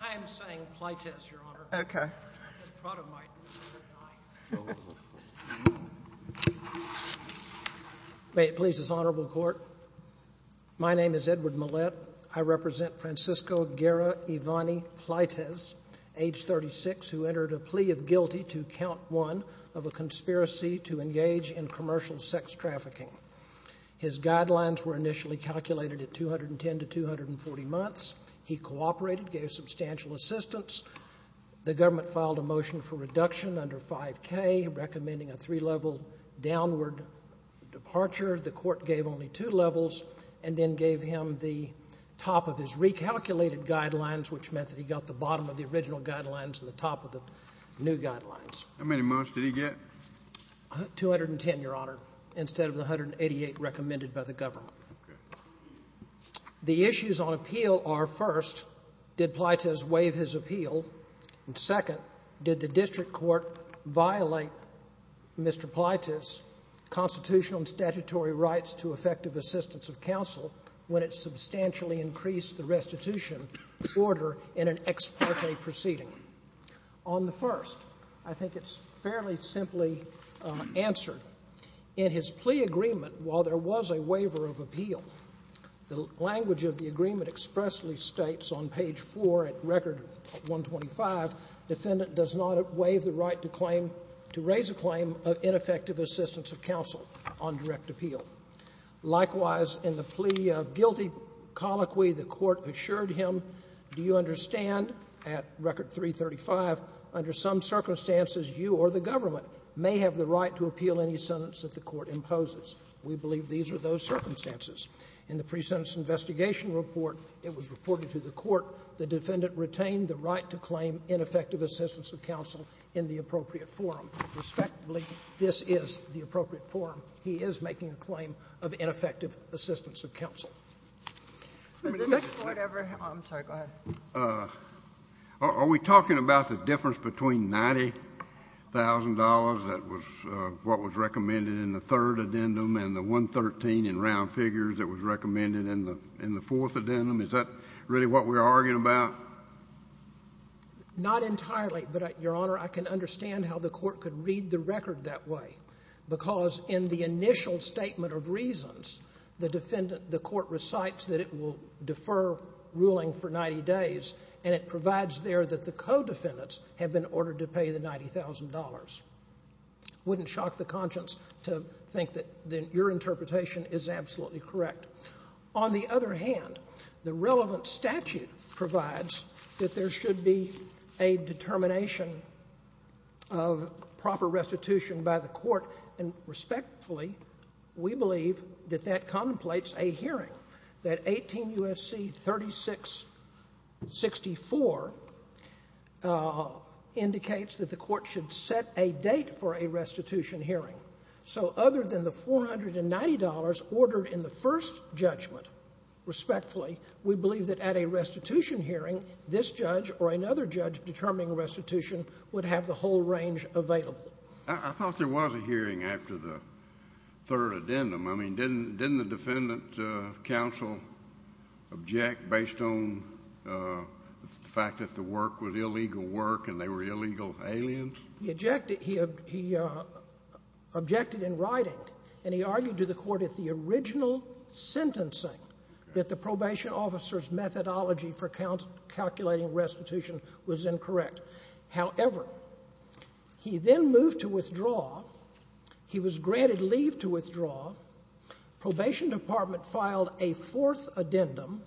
I am saying Pleitez your honor. Okay. May it please this honorable court. My name is Edward Millett. I represent Francisco Guerra Evani Pleitez, age 36, who entered a plea of guilty to count one of a conspiracy to engage in commercial sex trafficking. His guidelines were initially calculated at 210 to 240 months. He cooperated, gave substantial assistance. The government filed a motion for reduction under 5K, recommending a three-level downward departure. The court gave only two levels and then gave him the top of his recalculated guidelines, which meant that he got the bottom of the original guidelines and the top of the new guidelines. How many months did he get? 210, your honor, instead of the 188 recommended by the government. Okay. The issues on appeal are, first, did Pleitez waive his appeal? And, second, did the district court violate Mr. Pleitez's constitutional and statutory rights to effective assistance of counsel when it substantially increased the restitution order in an ex parte proceeding? On the first, I think it's fairly simply answered. In his plea agreement, while there was a waiver of appeal, the language of the agreement expressly states on page 4 at record 125, defendant does not waive the right to claim to raise a claim of ineffective assistance of counsel on direct appeal. Likewise, in the plea of guilty colloquy, the court assured him, do you understand, at record 335, under some circumstances, you or the government may have the right to appeal any sentence that the court imposes. We believe these are those circumstances. In the pre-sentence investigation report, it was reported to the court the defendant retained the right to claim ineffective assistance of counsel in the appropriate forum. Respectably, this is the appropriate forum. He is making a claim of ineffective assistance of counsel. The second question. Whatever. I'm sorry. Go ahead. Are we talking about the difference between $90,000 that was what was recommended in the third addendum and the 113 in round figures that was recommended in the fourth addendum? Is that really what we're arguing about? Not entirely, but, Your Honor, I can understand how the court could read the record that way because in the initial statement of reasons, the defendant, the court recites that it will defer ruling for 90 days, and it provides there that the co-defendants have been ordered to pay the $90,000. Wouldn't shock the conscience to think that your interpretation is absolutely correct. On the other hand, the relevant statute provides that there should be a determination of proper restitution by the court, and respectfully, we believe that that contemplates a hearing that 18 U.S.C. 3664 indicates that the court should set a date for a restitution hearing. So other than the $490 ordered in the first judgment, respectfully, we believe that at a restitution hearing, this judge or another judge determining restitution would have the whole range available. I thought there was a hearing after the third addendum. I mean, didn't the defendant counsel object based on the fact that the work was illegal work and they were illegal aliens? He objected in writing, and he argued to the court at the original sentencing that the probation officer's methodology for calculating restitution was incorrect. However, he then moved to withdraw. He was granted leave to withdraw. Probation department filed a fourth addendum.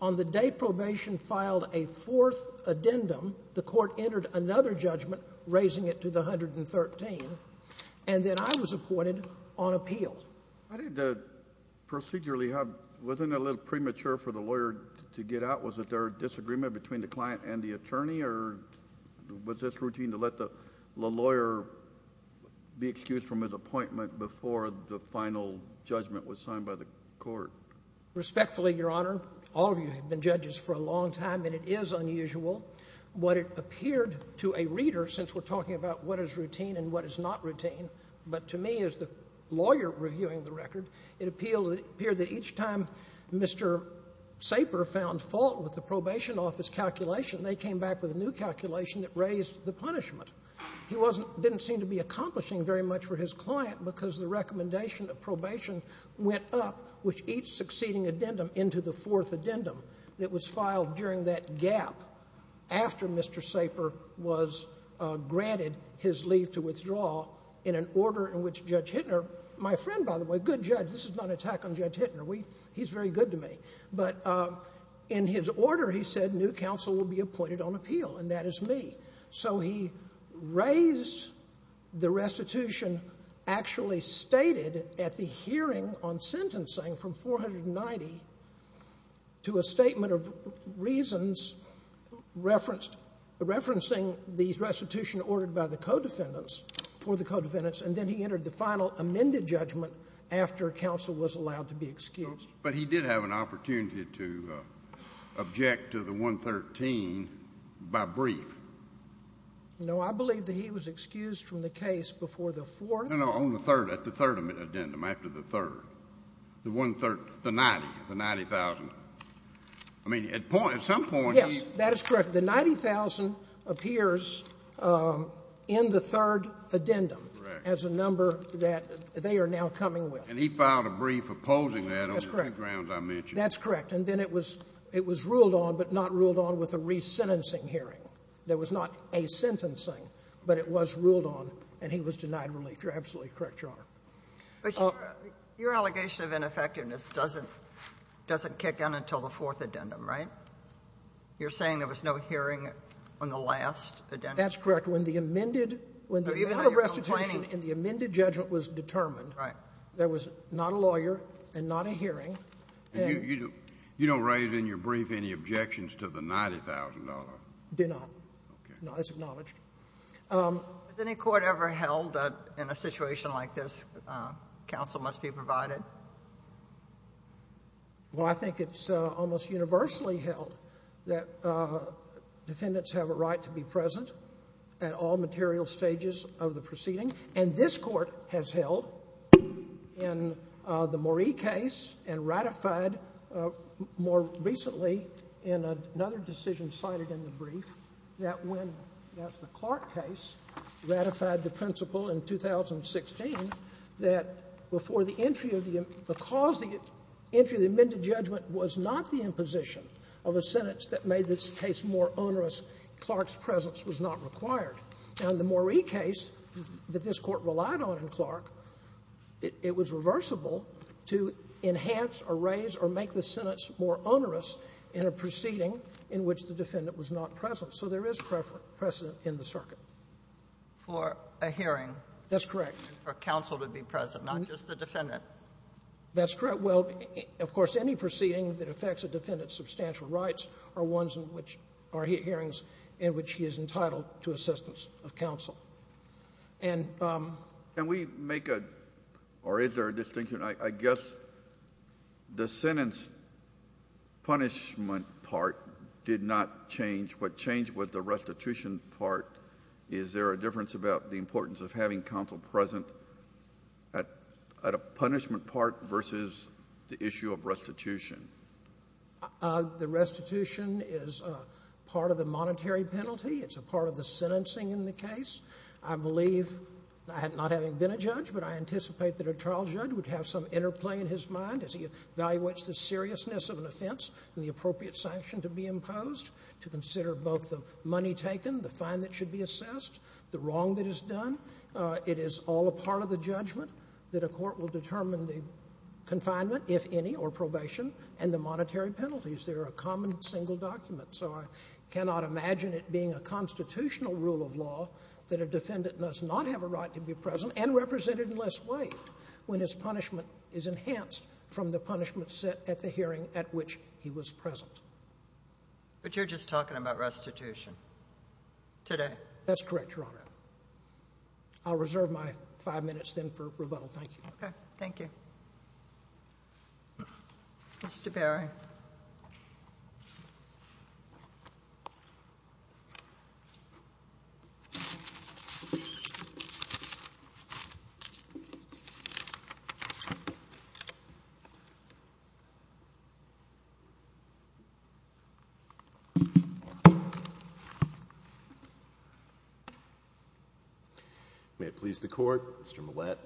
On the day probation filed a fourth addendum, the court entered another judgment, raising it to the 113, and then I was appointed on appeal. Why didn't the procedure leave? Wasn't it a little premature for the lawyer to get out? Was it their disagreement between the client and the attorney, or was this routine to let the lawyer be excused from his appointment before the final judgment was signed by the court? Respectfully, Your Honor, all of you have been judges for a long time, and it is unusual. What it appeared to a reader, since we're talking about what is routine and what is not routine, but to me, as the lawyer reviewing the record, it appealed to the period that each time Mr. Saper found fault with the probation office calculation, they came back with a new calculation that raised the punishment. He didn't seem to be accomplishing very much for his client because the recommendation of probation went up, which each succeeding addendum into the fourth addendum that was filed during that gap after Mr. Saper was granted his leave to withdraw in an order in which Judge Hittner, my friend by the way, good judge. This is not an attack on Judge Hittner. He's very good to me. But in his order, he said new counsel will be appointed on appeal, and that is me. So he raised the restitution actually stated at the hearing on sentencing from 490 to a statement of reasons referencing the restitution ordered by the co-defendants for the co-defendants, and then he entered the final amended judgment after counsel was allowed to be excused. But he did have an opportunity to object to the 113 by brief. No, I believe that he was excused from the case before the fourth. No, no, on the third, at the third addendum, after the third, the one third, the 90, the 90,000. I mean, at some point he – Yes, that is correct. The 90,000 appears in the third addendum as a number that they are now coming with. And he filed a brief opposing that on the grounds I mentioned. That's correct. And then it was ruled on, but not ruled on with a resentencing hearing. There was not a sentencing, but it was ruled on, and he was denied relief. You're absolutely correct, Your Honor. But your allegation of ineffectiveness doesn't kick in until the fourth addendum, right? You're saying there was no hearing on the last addendum? That's correct. When the amended – when the amendment of restitution and the amended judgment was determined, there was not a lawyer and not a hearing. And you don't raise in your brief any objections to the $90,000? Do not. Okay. No, it's acknowledged. Has any court ever held that in a situation like this, counsel must be provided? Well, I think it's almost universally held that defendants have a right to be present at all material stages of the proceeding. And this Court has held in the Moree case and ratified more recently in another decision cited in the brief that when – that's the Clark case – ratified the principle in 2016 that before the entry of the – because the entry of the amended judgment was not the imposition of a sentence that made this case more onerous, Clark's presence was not required. Now, in the Moree case that this Court relied on in Clark, it was reversible to enhance or raise or make the sentence more onerous in a proceeding in which the defendant was not present. So there is precedent in the circuit. For a hearing. That's correct. For counsel to be present, not just the defendant. That's correct. Well, of course, any proceeding that affects a defendant's is entitled to assistance of counsel. And – Can we make a – or is there a distinction? I guess the sentence punishment part did not change. What changed was the restitution part. Is there a difference about the importance of having counsel present at a punishment part versus the issue of restitution? The restitution is part of the monetary penalty. It's a part of the sentencing in the case. I believe, not having been a judge, but I anticipate that a trial judge would have some interplay in his mind as he evaluates the seriousness of an offense and the appropriate sanction to be imposed, to consider both the money taken, the fine that should be assessed, the wrong that is done. It is all a part of the judgment that a court will determine the confinement, if any, or probation, and the monetary penalties. They are a common single document. So I cannot imagine it being a constitutional rule of law that a defendant must not have a right to be present and represented unless waived when his punishment is enhanced from the punishment set at the hearing at which he was present. But you're just talking about restitution today. That's correct, Your Honor. I'll reserve my five minutes, then, for rebuttal. Thank you. Okay. Thank you. Mr. Berry. May it please the Court. Mr. Millett.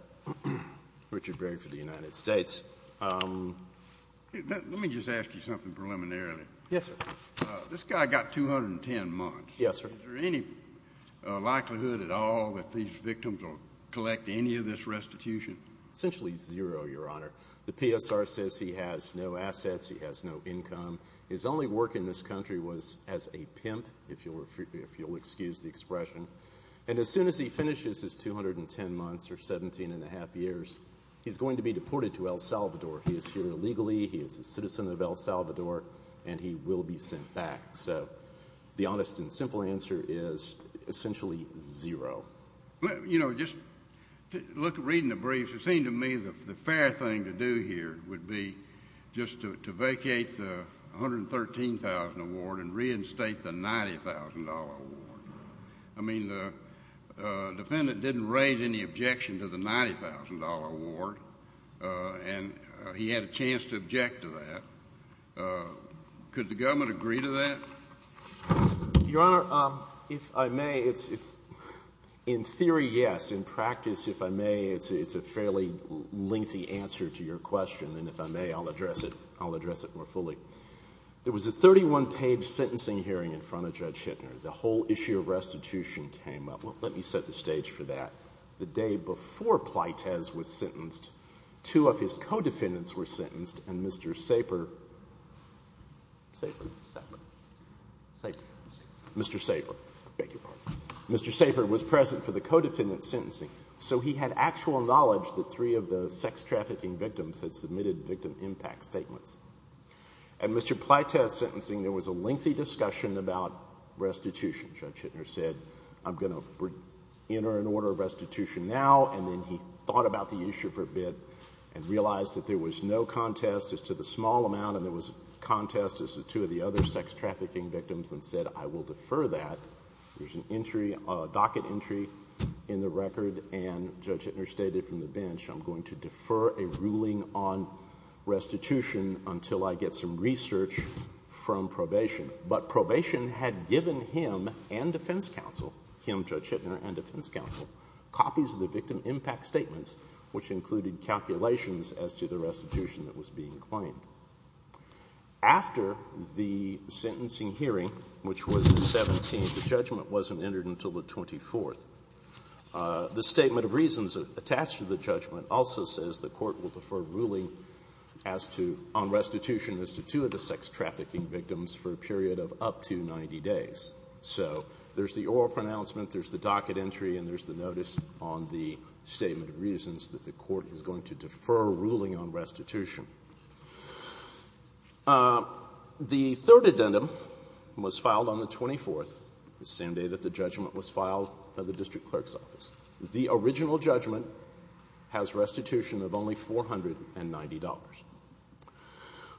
Richard Berry for the United States. Let me just ask you something preliminarily. Yes, sir. This guy got 210 months. Yes, sir. Is there any likelihood at all that these victims will collect any of this restitution? Essentially zero, Your Honor. The PSR says he has no assets, he has no income. His only work in this country was as a pimp, if you'll excuse the expression. And as soon as he finishes his 210 months or 17 1⁄2 years, he's going to be deported to El Salvador. He is here illegally, he is a citizen of El Salvador, and he will be sent back. So the honest and simple answer is essentially zero. You know, just reading the briefs, it seemed to me the fair thing to do here would be just to vacate the $113,000 award and reinstate the $90,000 award. I mean, the defendant didn't raise any objection to the $90,000 award, and he had a chance to object to that. Could the government agree to that? Your Honor, if I may, in theory, yes. In practice, if I may, it's a fairly lengthy answer to your question, and if I may, I'll address it more fully. There was a 31-page sentencing hearing in front of Judge Hittner. The whole issue of restitution came up. Well, let me set the stage for that. The day before Plaitez was sentenced, two of his co-defendants were sentenced, and Mr. Saper was present for the co-defendant's sentencing, so he had actual knowledge that three of the sex-trafficking victims had submitted victim impact statements. At Mr. Plaitez's sentencing, there was a lengthy discussion about restitution. Judge Hittner said, I'm going to enter an order of restitution now, and then he thought about the issue for a bit and realized that there was no contest as to the small amount and there was a contest as to two of the other sex-trafficking victims and said, I will defer that. There's a docket entry in the record, and Judge Hittner stated from the bench, I'm going to defer a ruling on restitution until I get some research from probation. But probation had given him and defense counsel, him, Judge Hittner, and defense counsel, copies of the victim impact statements, which included calculations as to the restitution that was being claimed. After the sentencing hearing, which was the 17th, the judgment wasn't entered until the 24th. The statement of reasons attached to the judgment also says the court will defer ruling on restitution as to two of the sex-trafficking victims for a period of up to 90 days. So there's the oral pronouncement, there's the docket entry, and there's the notice on the statement of reasons that the court is going to defer ruling on restitution. The third addendum was filed on the 24th, the same day that the judgment was filed by the district clerk's office. The original judgment has restitution of only $490.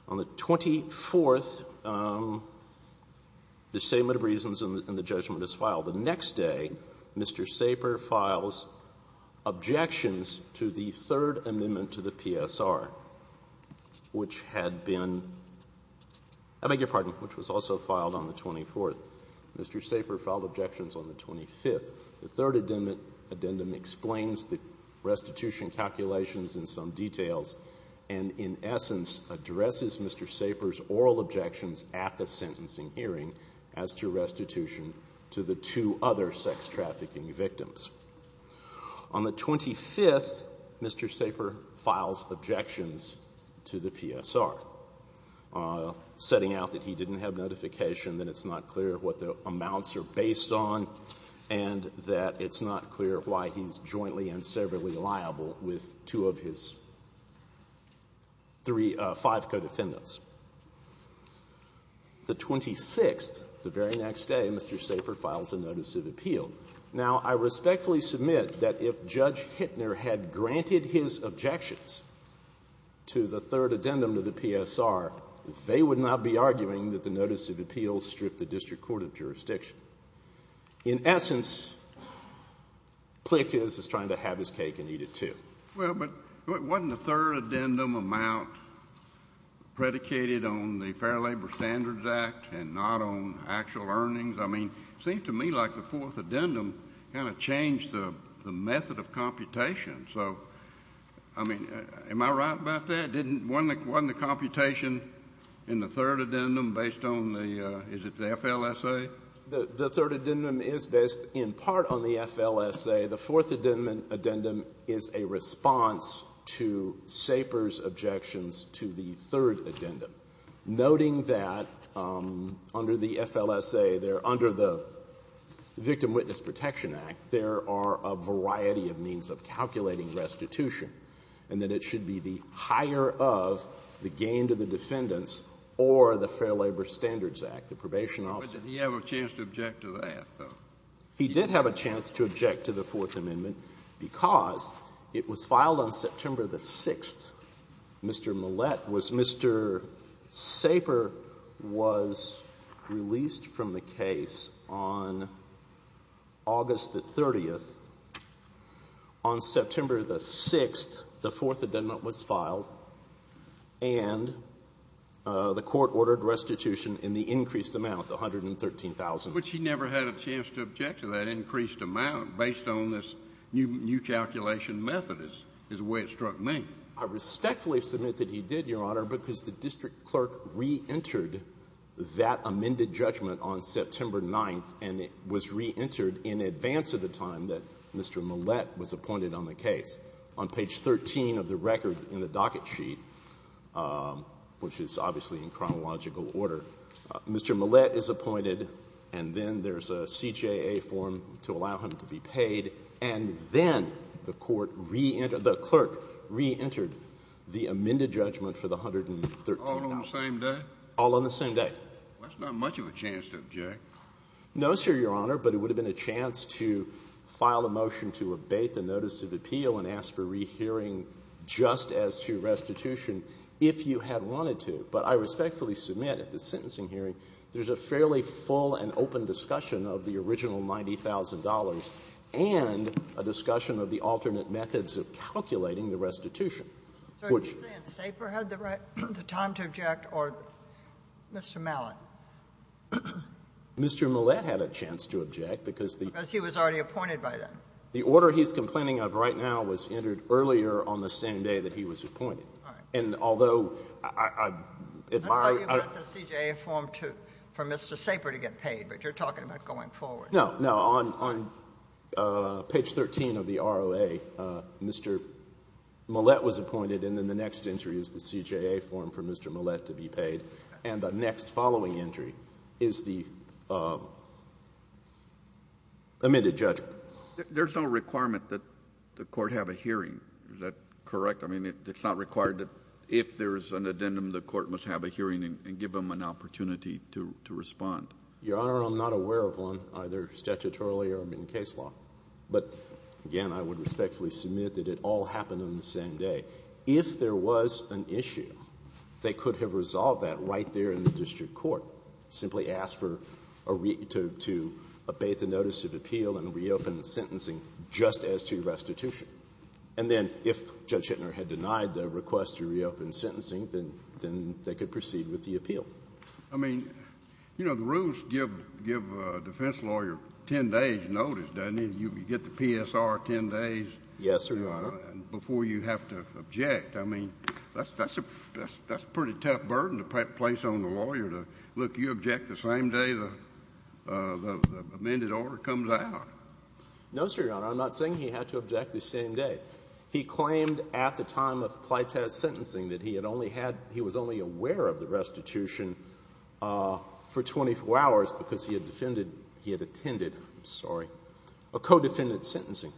On the 24th, the statement of reasons and the judgment is filed. The next day, Mr. Saper files objections to the third amendment to the PSR, which had been — I beg your pardon, which was also filed on the 24th. Mr. Saper filed objections on the 25th. The third addendum explains the restitution calculations in some details and, in essence, addresses Mr. Saper's oral objections at the sentencing hearing as to restitution to the two other sex-trafficking victims. On the 25th, Mr. Saper files objections to the PSR, setting out that he didn't have notification, that it's not clear what the amounts are based on, and that it's not clear why he's jointly and severally liable with two of his three — five co-defendants. The 26th, the very next day, Mr. Saper files a notice of appeal. Now, I respectfully submit that if Judge Hittner had granted his objections to the third addendum to the PSR, they would not be arguing that the notice of appeal would strip the district court of jurisdiction. In essence, Plitt is trying to have his cake and eat it, too. Well, but wasn't the third addendum amount predicated on the Fair Labor Standards Act and not on actual earnings? I mean, it seems to me like the fourth addendum kind of changed the method of computation. So, I mean, am I right about that? Wasn't the computation in the third addendum based on the — is it the FLSA? The third addendum is based in part on the FLSA. The fourth addendum is a response to Saper's objections to the third addendum, noting that under the FLSA, under the Victim Witness Protection Act, there are a variety of means of calculating restitution, and that it should be the higher of the gain to the defendants or the Fair Labor Standards Act, the probation officer. But did he have a chance to object to that, though? He did have a chance to object to the Fourth Amendment because it was filed on September the 6th. Mr. Millett was — Mr. Saper was released from the case on August the 30th. On September the 6th, the fourth addendum was filed, and the Court ordered restitution in the increased amount, $113,000. But he never had a chance to object to that increased amount based on this new calculation method is the way it struck me. I respectfully submit that he did, Your Honor, because the district clerk reentered that amended judgment on September 9th, and it was reentered in advance of the time that Mr. Millett was appointed on the case. On page 13 of the record in the docket sheet, which is obviously in chronological order, Mr. Millett is appointed, and then there's a CJA form to allow him to be paid, and then the court reentered — the clerk reentered the amended judgment for the $113,000. All on the same day? All on the same day. That's not much of a chance to object. No, sir, Your Honor, but it would have been a chance to file a motion to abate the notice of appeal and ask for rehearing just as to restitution if you had wanted to. But I respectfully submit at this sentencing hearing there's a fairly full and open discussion of the original $90,000 and a discussion of the alternate methods of calculating the restitution. Would you? So you're saying Staper had the time to object or Mr. Mallett? Mr. Millett had a chance to object because the — Because he was already appointed by them. The order he's complaining of right now was entered earlier on the same day that he was appointed. All right. And although I admire — I thought you meant the CJA form for Mr. Saper to get paid, but you're talking about going forward. No, no. On page 13 of the ROA, Mr. Millett was appointed, and then the next entry is the CJA form for Mr. Millett to be paid. And the next following entry is the amended judgment. There's no requirement that the court have a hearing. Is that correct? I mean, it's not required that if there's an addendum, the court must have a hearing and give them an opportunity to respond. Your Honor, I'm not aware of one, either statutorily or in case law. But again, I would respectfully submit that it all happened on the same day. If there was an issue, they could have resolved that right there in the district court, simply asked for a — to obey the notice of appeal and reopen the sentencing just as to restitution. And then if Judge Hittner had denied the request to reopen sentencing, then they could proceed with the appeal. I mean, you know, the rules give a defense lawyer 10 days' notice, doesn't it? You get the PSR 10 days — Yes, sir, Your Honor. I mean, that's a pretty tough burden to place on the lawyer to — look, you object the same day the amended order comes out. No, sir, Your Honor. I'm not saying he had to object the same day. He claimed at the time of Pleitez's sentencing that he had only had — he was only aware of the restitution for 24 hours because he had defended — he had attended, I'm sorry, a co-defendant's sentencing.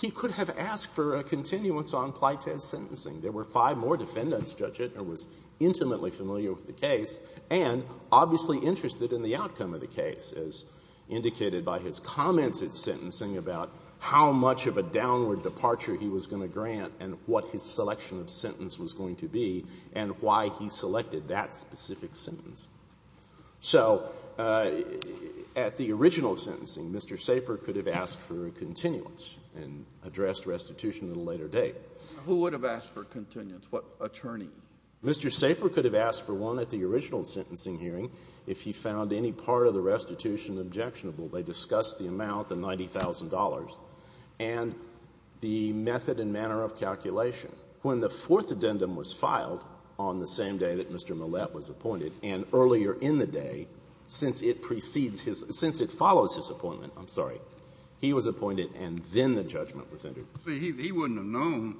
He could have asked for a continuance on Pleitez's sentencing. There were five more defendants, Judge Hittner was intimately familiar with the case and obviously interested in the outcome of the case, as indicated by his comments at sentencing about how much of a downward departure he was going to grant and what his selection of sentence was going to be and why he selected that specific sentence. So at the original sentencing, Mr. Saper could have asked for a continuance and addressed restitution at a later date. Who would have asked for a continuance? What attorney? Mr. Saper could have asked for one at the original sentencing hearing if he found any part of the restitution objectionable. They discussed the amount, the $90,000, and the method and manner of calculation. When the Fourth Addendum was filed on the same day that Mr. Millett was appointed and earlier in the day, since it precedes his — since it follows his appointment, I'm sorry, he was appointed and then the judgment was entered. He wouldn't have known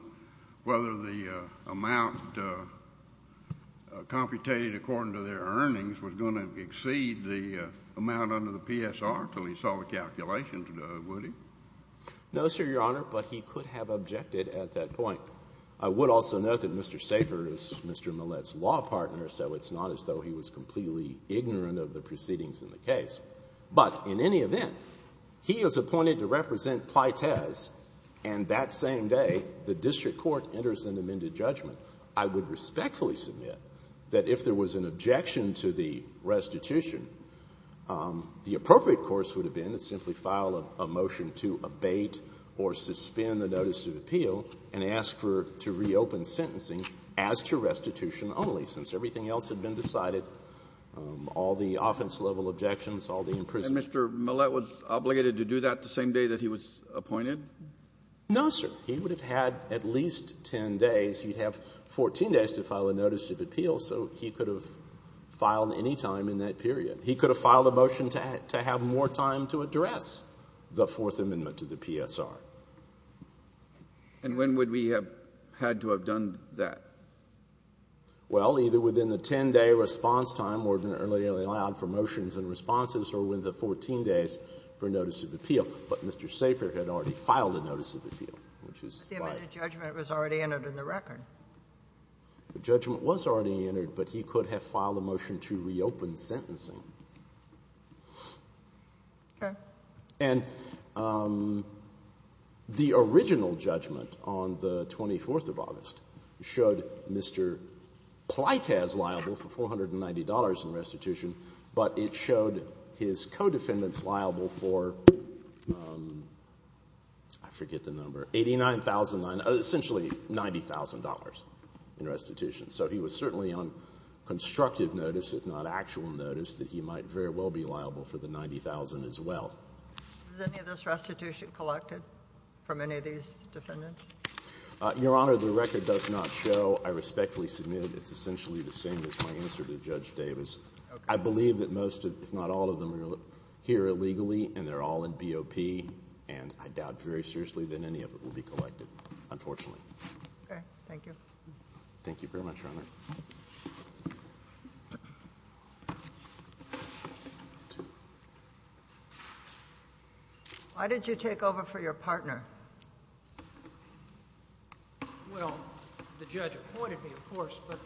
whether the amount computated according to their earnings was going to exceed the amount under the PSR until he saw the calculations, would he? No, sir, Your Honor, but he could have objected at that point. I would also note that Mr. Saper is Mr. Millett's law partner, so it's not as though he was completely ignorant of the proceedings in the case. But in any event, he is appointed to represent Pleitez and that same day the district court enters an amended judgment. I would respectfully submit that if there was an objection to the restitution, the appropriate course would have been to simply file a motion to abate or suspend the notice of appeal and ask for — to reopen sentencing as to restitution only, since everything else had been decided, all the offense-level objections, all the imprisonments. And Mr. Millett was obligated to do that the same day that he was appointed? No, sir. He would have had at least 10 days. He'd have 14 days to file a notice of appeal, so he could have filed any time in that period. He could have filed a motion to have more time to address the Fourth Amendment to the PSR. And when would we have had to have done that? Well, either within the 10-day response time or earlier than allowed for motions and responses or within the 14 days for notice of appeal. But Mr. Saper had already filed a notice of appeal, which is why... But the amended judgment was already entered in the record. The judgment was already entered, but he could have filed a motion to reopen sentencing. Okay. And the original judgment on the 24th of August showed Mr. Pleitas liable for $490 in restitution, but it showed his co-defendants liable for... I forget the number... $89,000, essentially $90,000 in restitution. So he was certainly on constructive notice, if not actual notice, that he might very well be liable for the $90,000 as well. Was any of this restitution collected from any of these defendants? Your Honor, the record does not show. I respectfully submit it's essentially the same as my answer to Judge Davis. I believe that most, if not all, of them are here illegally, and they're all in BOP, and I doubt very seriously that any of it will be collected, unfortunately. Okay, thank you. Thank you very much, Your Honor. Why didn't you take over for your partner? Well, the judge appointed me, of course, but...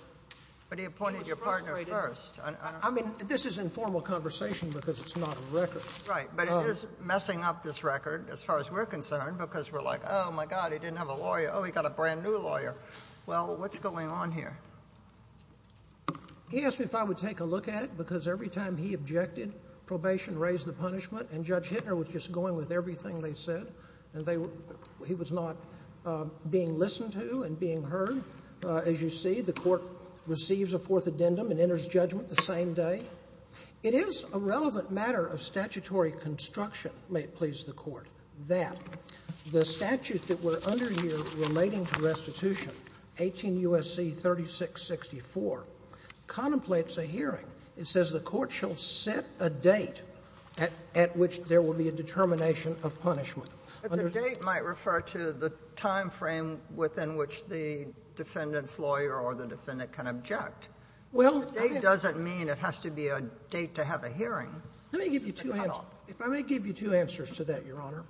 But he appointed your partner first. I mean, this is informal conversation, because it's not a record. Right, but it is messing up this record, as far as we're concerned, because we're like, oh, my God, he didn't have a lawyer. Oh, he got a brand-new lawyer. Well, what's going on here? He asked me if I would take a look at it, because every time he objected, probation raised the punishment, and Judge Hittner was just going with everything they said. And they... He was not being listened to and being heard. As you see, the court receives a fourth addendum and enters judgment the same day. It is a relevant matter of statutory construction, may it please the Court, that the statute that we're under here relating to restitution, 18 U.S.C. 3664, contemplates a hearing. It says the court shall set a date at which there will be a determination of punishment. But the date might refer to the time frame within which the defendant's lawyer or the defendant can object. Well... I mean, it has to be a date to have a hearing. Let me give you two answers. If I may give you two answers to that, Your Honor.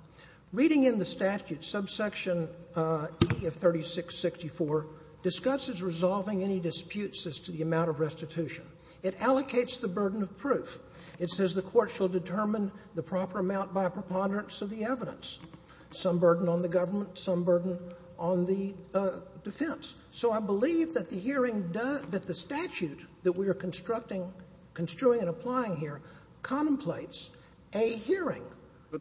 Reading in the statute, subsection E of 3664 discusses resolving any disputes as to the amount of restitution. It allocates the burden of proof. It says the court shall determine the proper amount by preponderance of the evidence. Some burden on the government, some burden on the defense. So I believe that the hearing does... that the statute that we are constructing, construing and applying here contemplates a hearing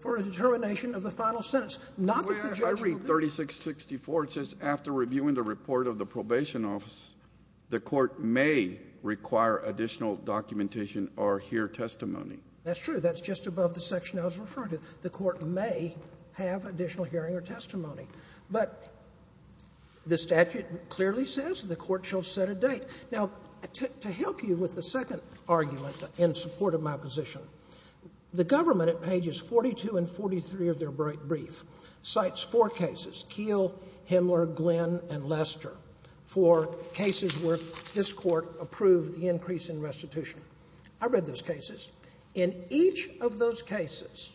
for a determination of the final sentence. Not that the judge will... Your Honor, if I read 3664, it says after reviewing the report of the probation office, the court may require additional documentation or hear testimony. That's true. That's just above the section I was referring to. The court may have additional hearing or testimony. But the statute clearly says the court shall set a date. Now, to help you with the second argument in support of my position, the government at pages 42 and 43 of their brief cites four cases, Keele, Himmler, Glenn, and Lester, for cases where this court approved the increase in restitution. I read those cases. In each of those cases,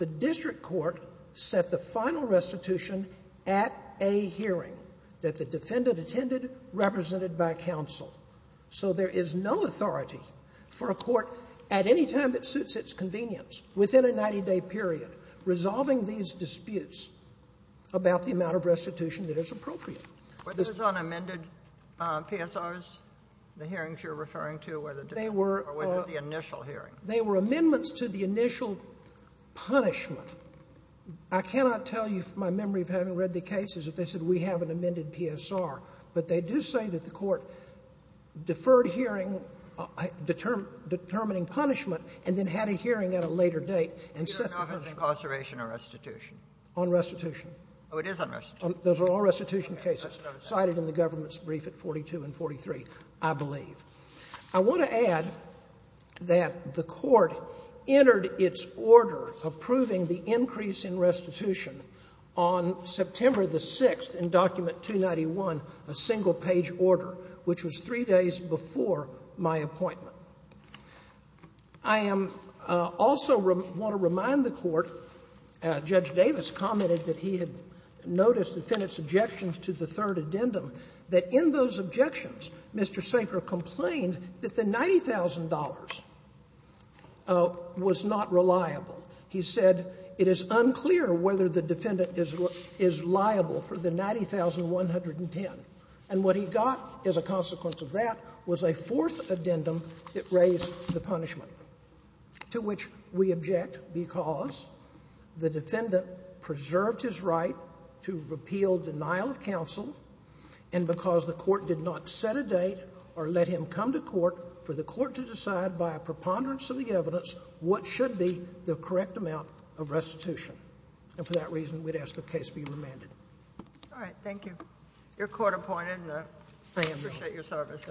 the district court set the final restitution at a hearing that the defendant attended represented by counsel. So there is no authority for a court at any time that suits its convenience within a 90-day period resolving these disputes about the amount of restitution that is appropriate. Were those unamended PSRs, the hearings you're referring to, or were they the initial hearing? They were amendments to the initial punishment. I cannot tell you my memory of having read the cases if they said, we have an amended PSR. But they do say that the court deferred hearing determining punishment and then had a hearing at a later date and set the restitution. On restitution? Those are all restitution cases cited in the government's brief at 42 and 43, I believe. I want to add that the court entered its order approving the increase in restitution on September the 6th in Document 291, a single-page order, which was three days before my appointment. I am also want to remind the court Judge Davis commented that he had noticed the defendant's objections to the third addendum that in those objections, Mr. Sanker complained that the $90,000 was not reliable. He said, it is unclear whether the defendant is liable for the $90,110. And what he got as a consequence of that was a fourth addendum that raised the punishment, to which we object because the defendant preserved his right to repeal denial of counsel and because the court did not set a date or let him come to court for the court to decide by a preponderance of the evidence what should be the correct amount of restitution. And for that reason, we'd ask the case be remanded. Your court appointed. I appreciate your service.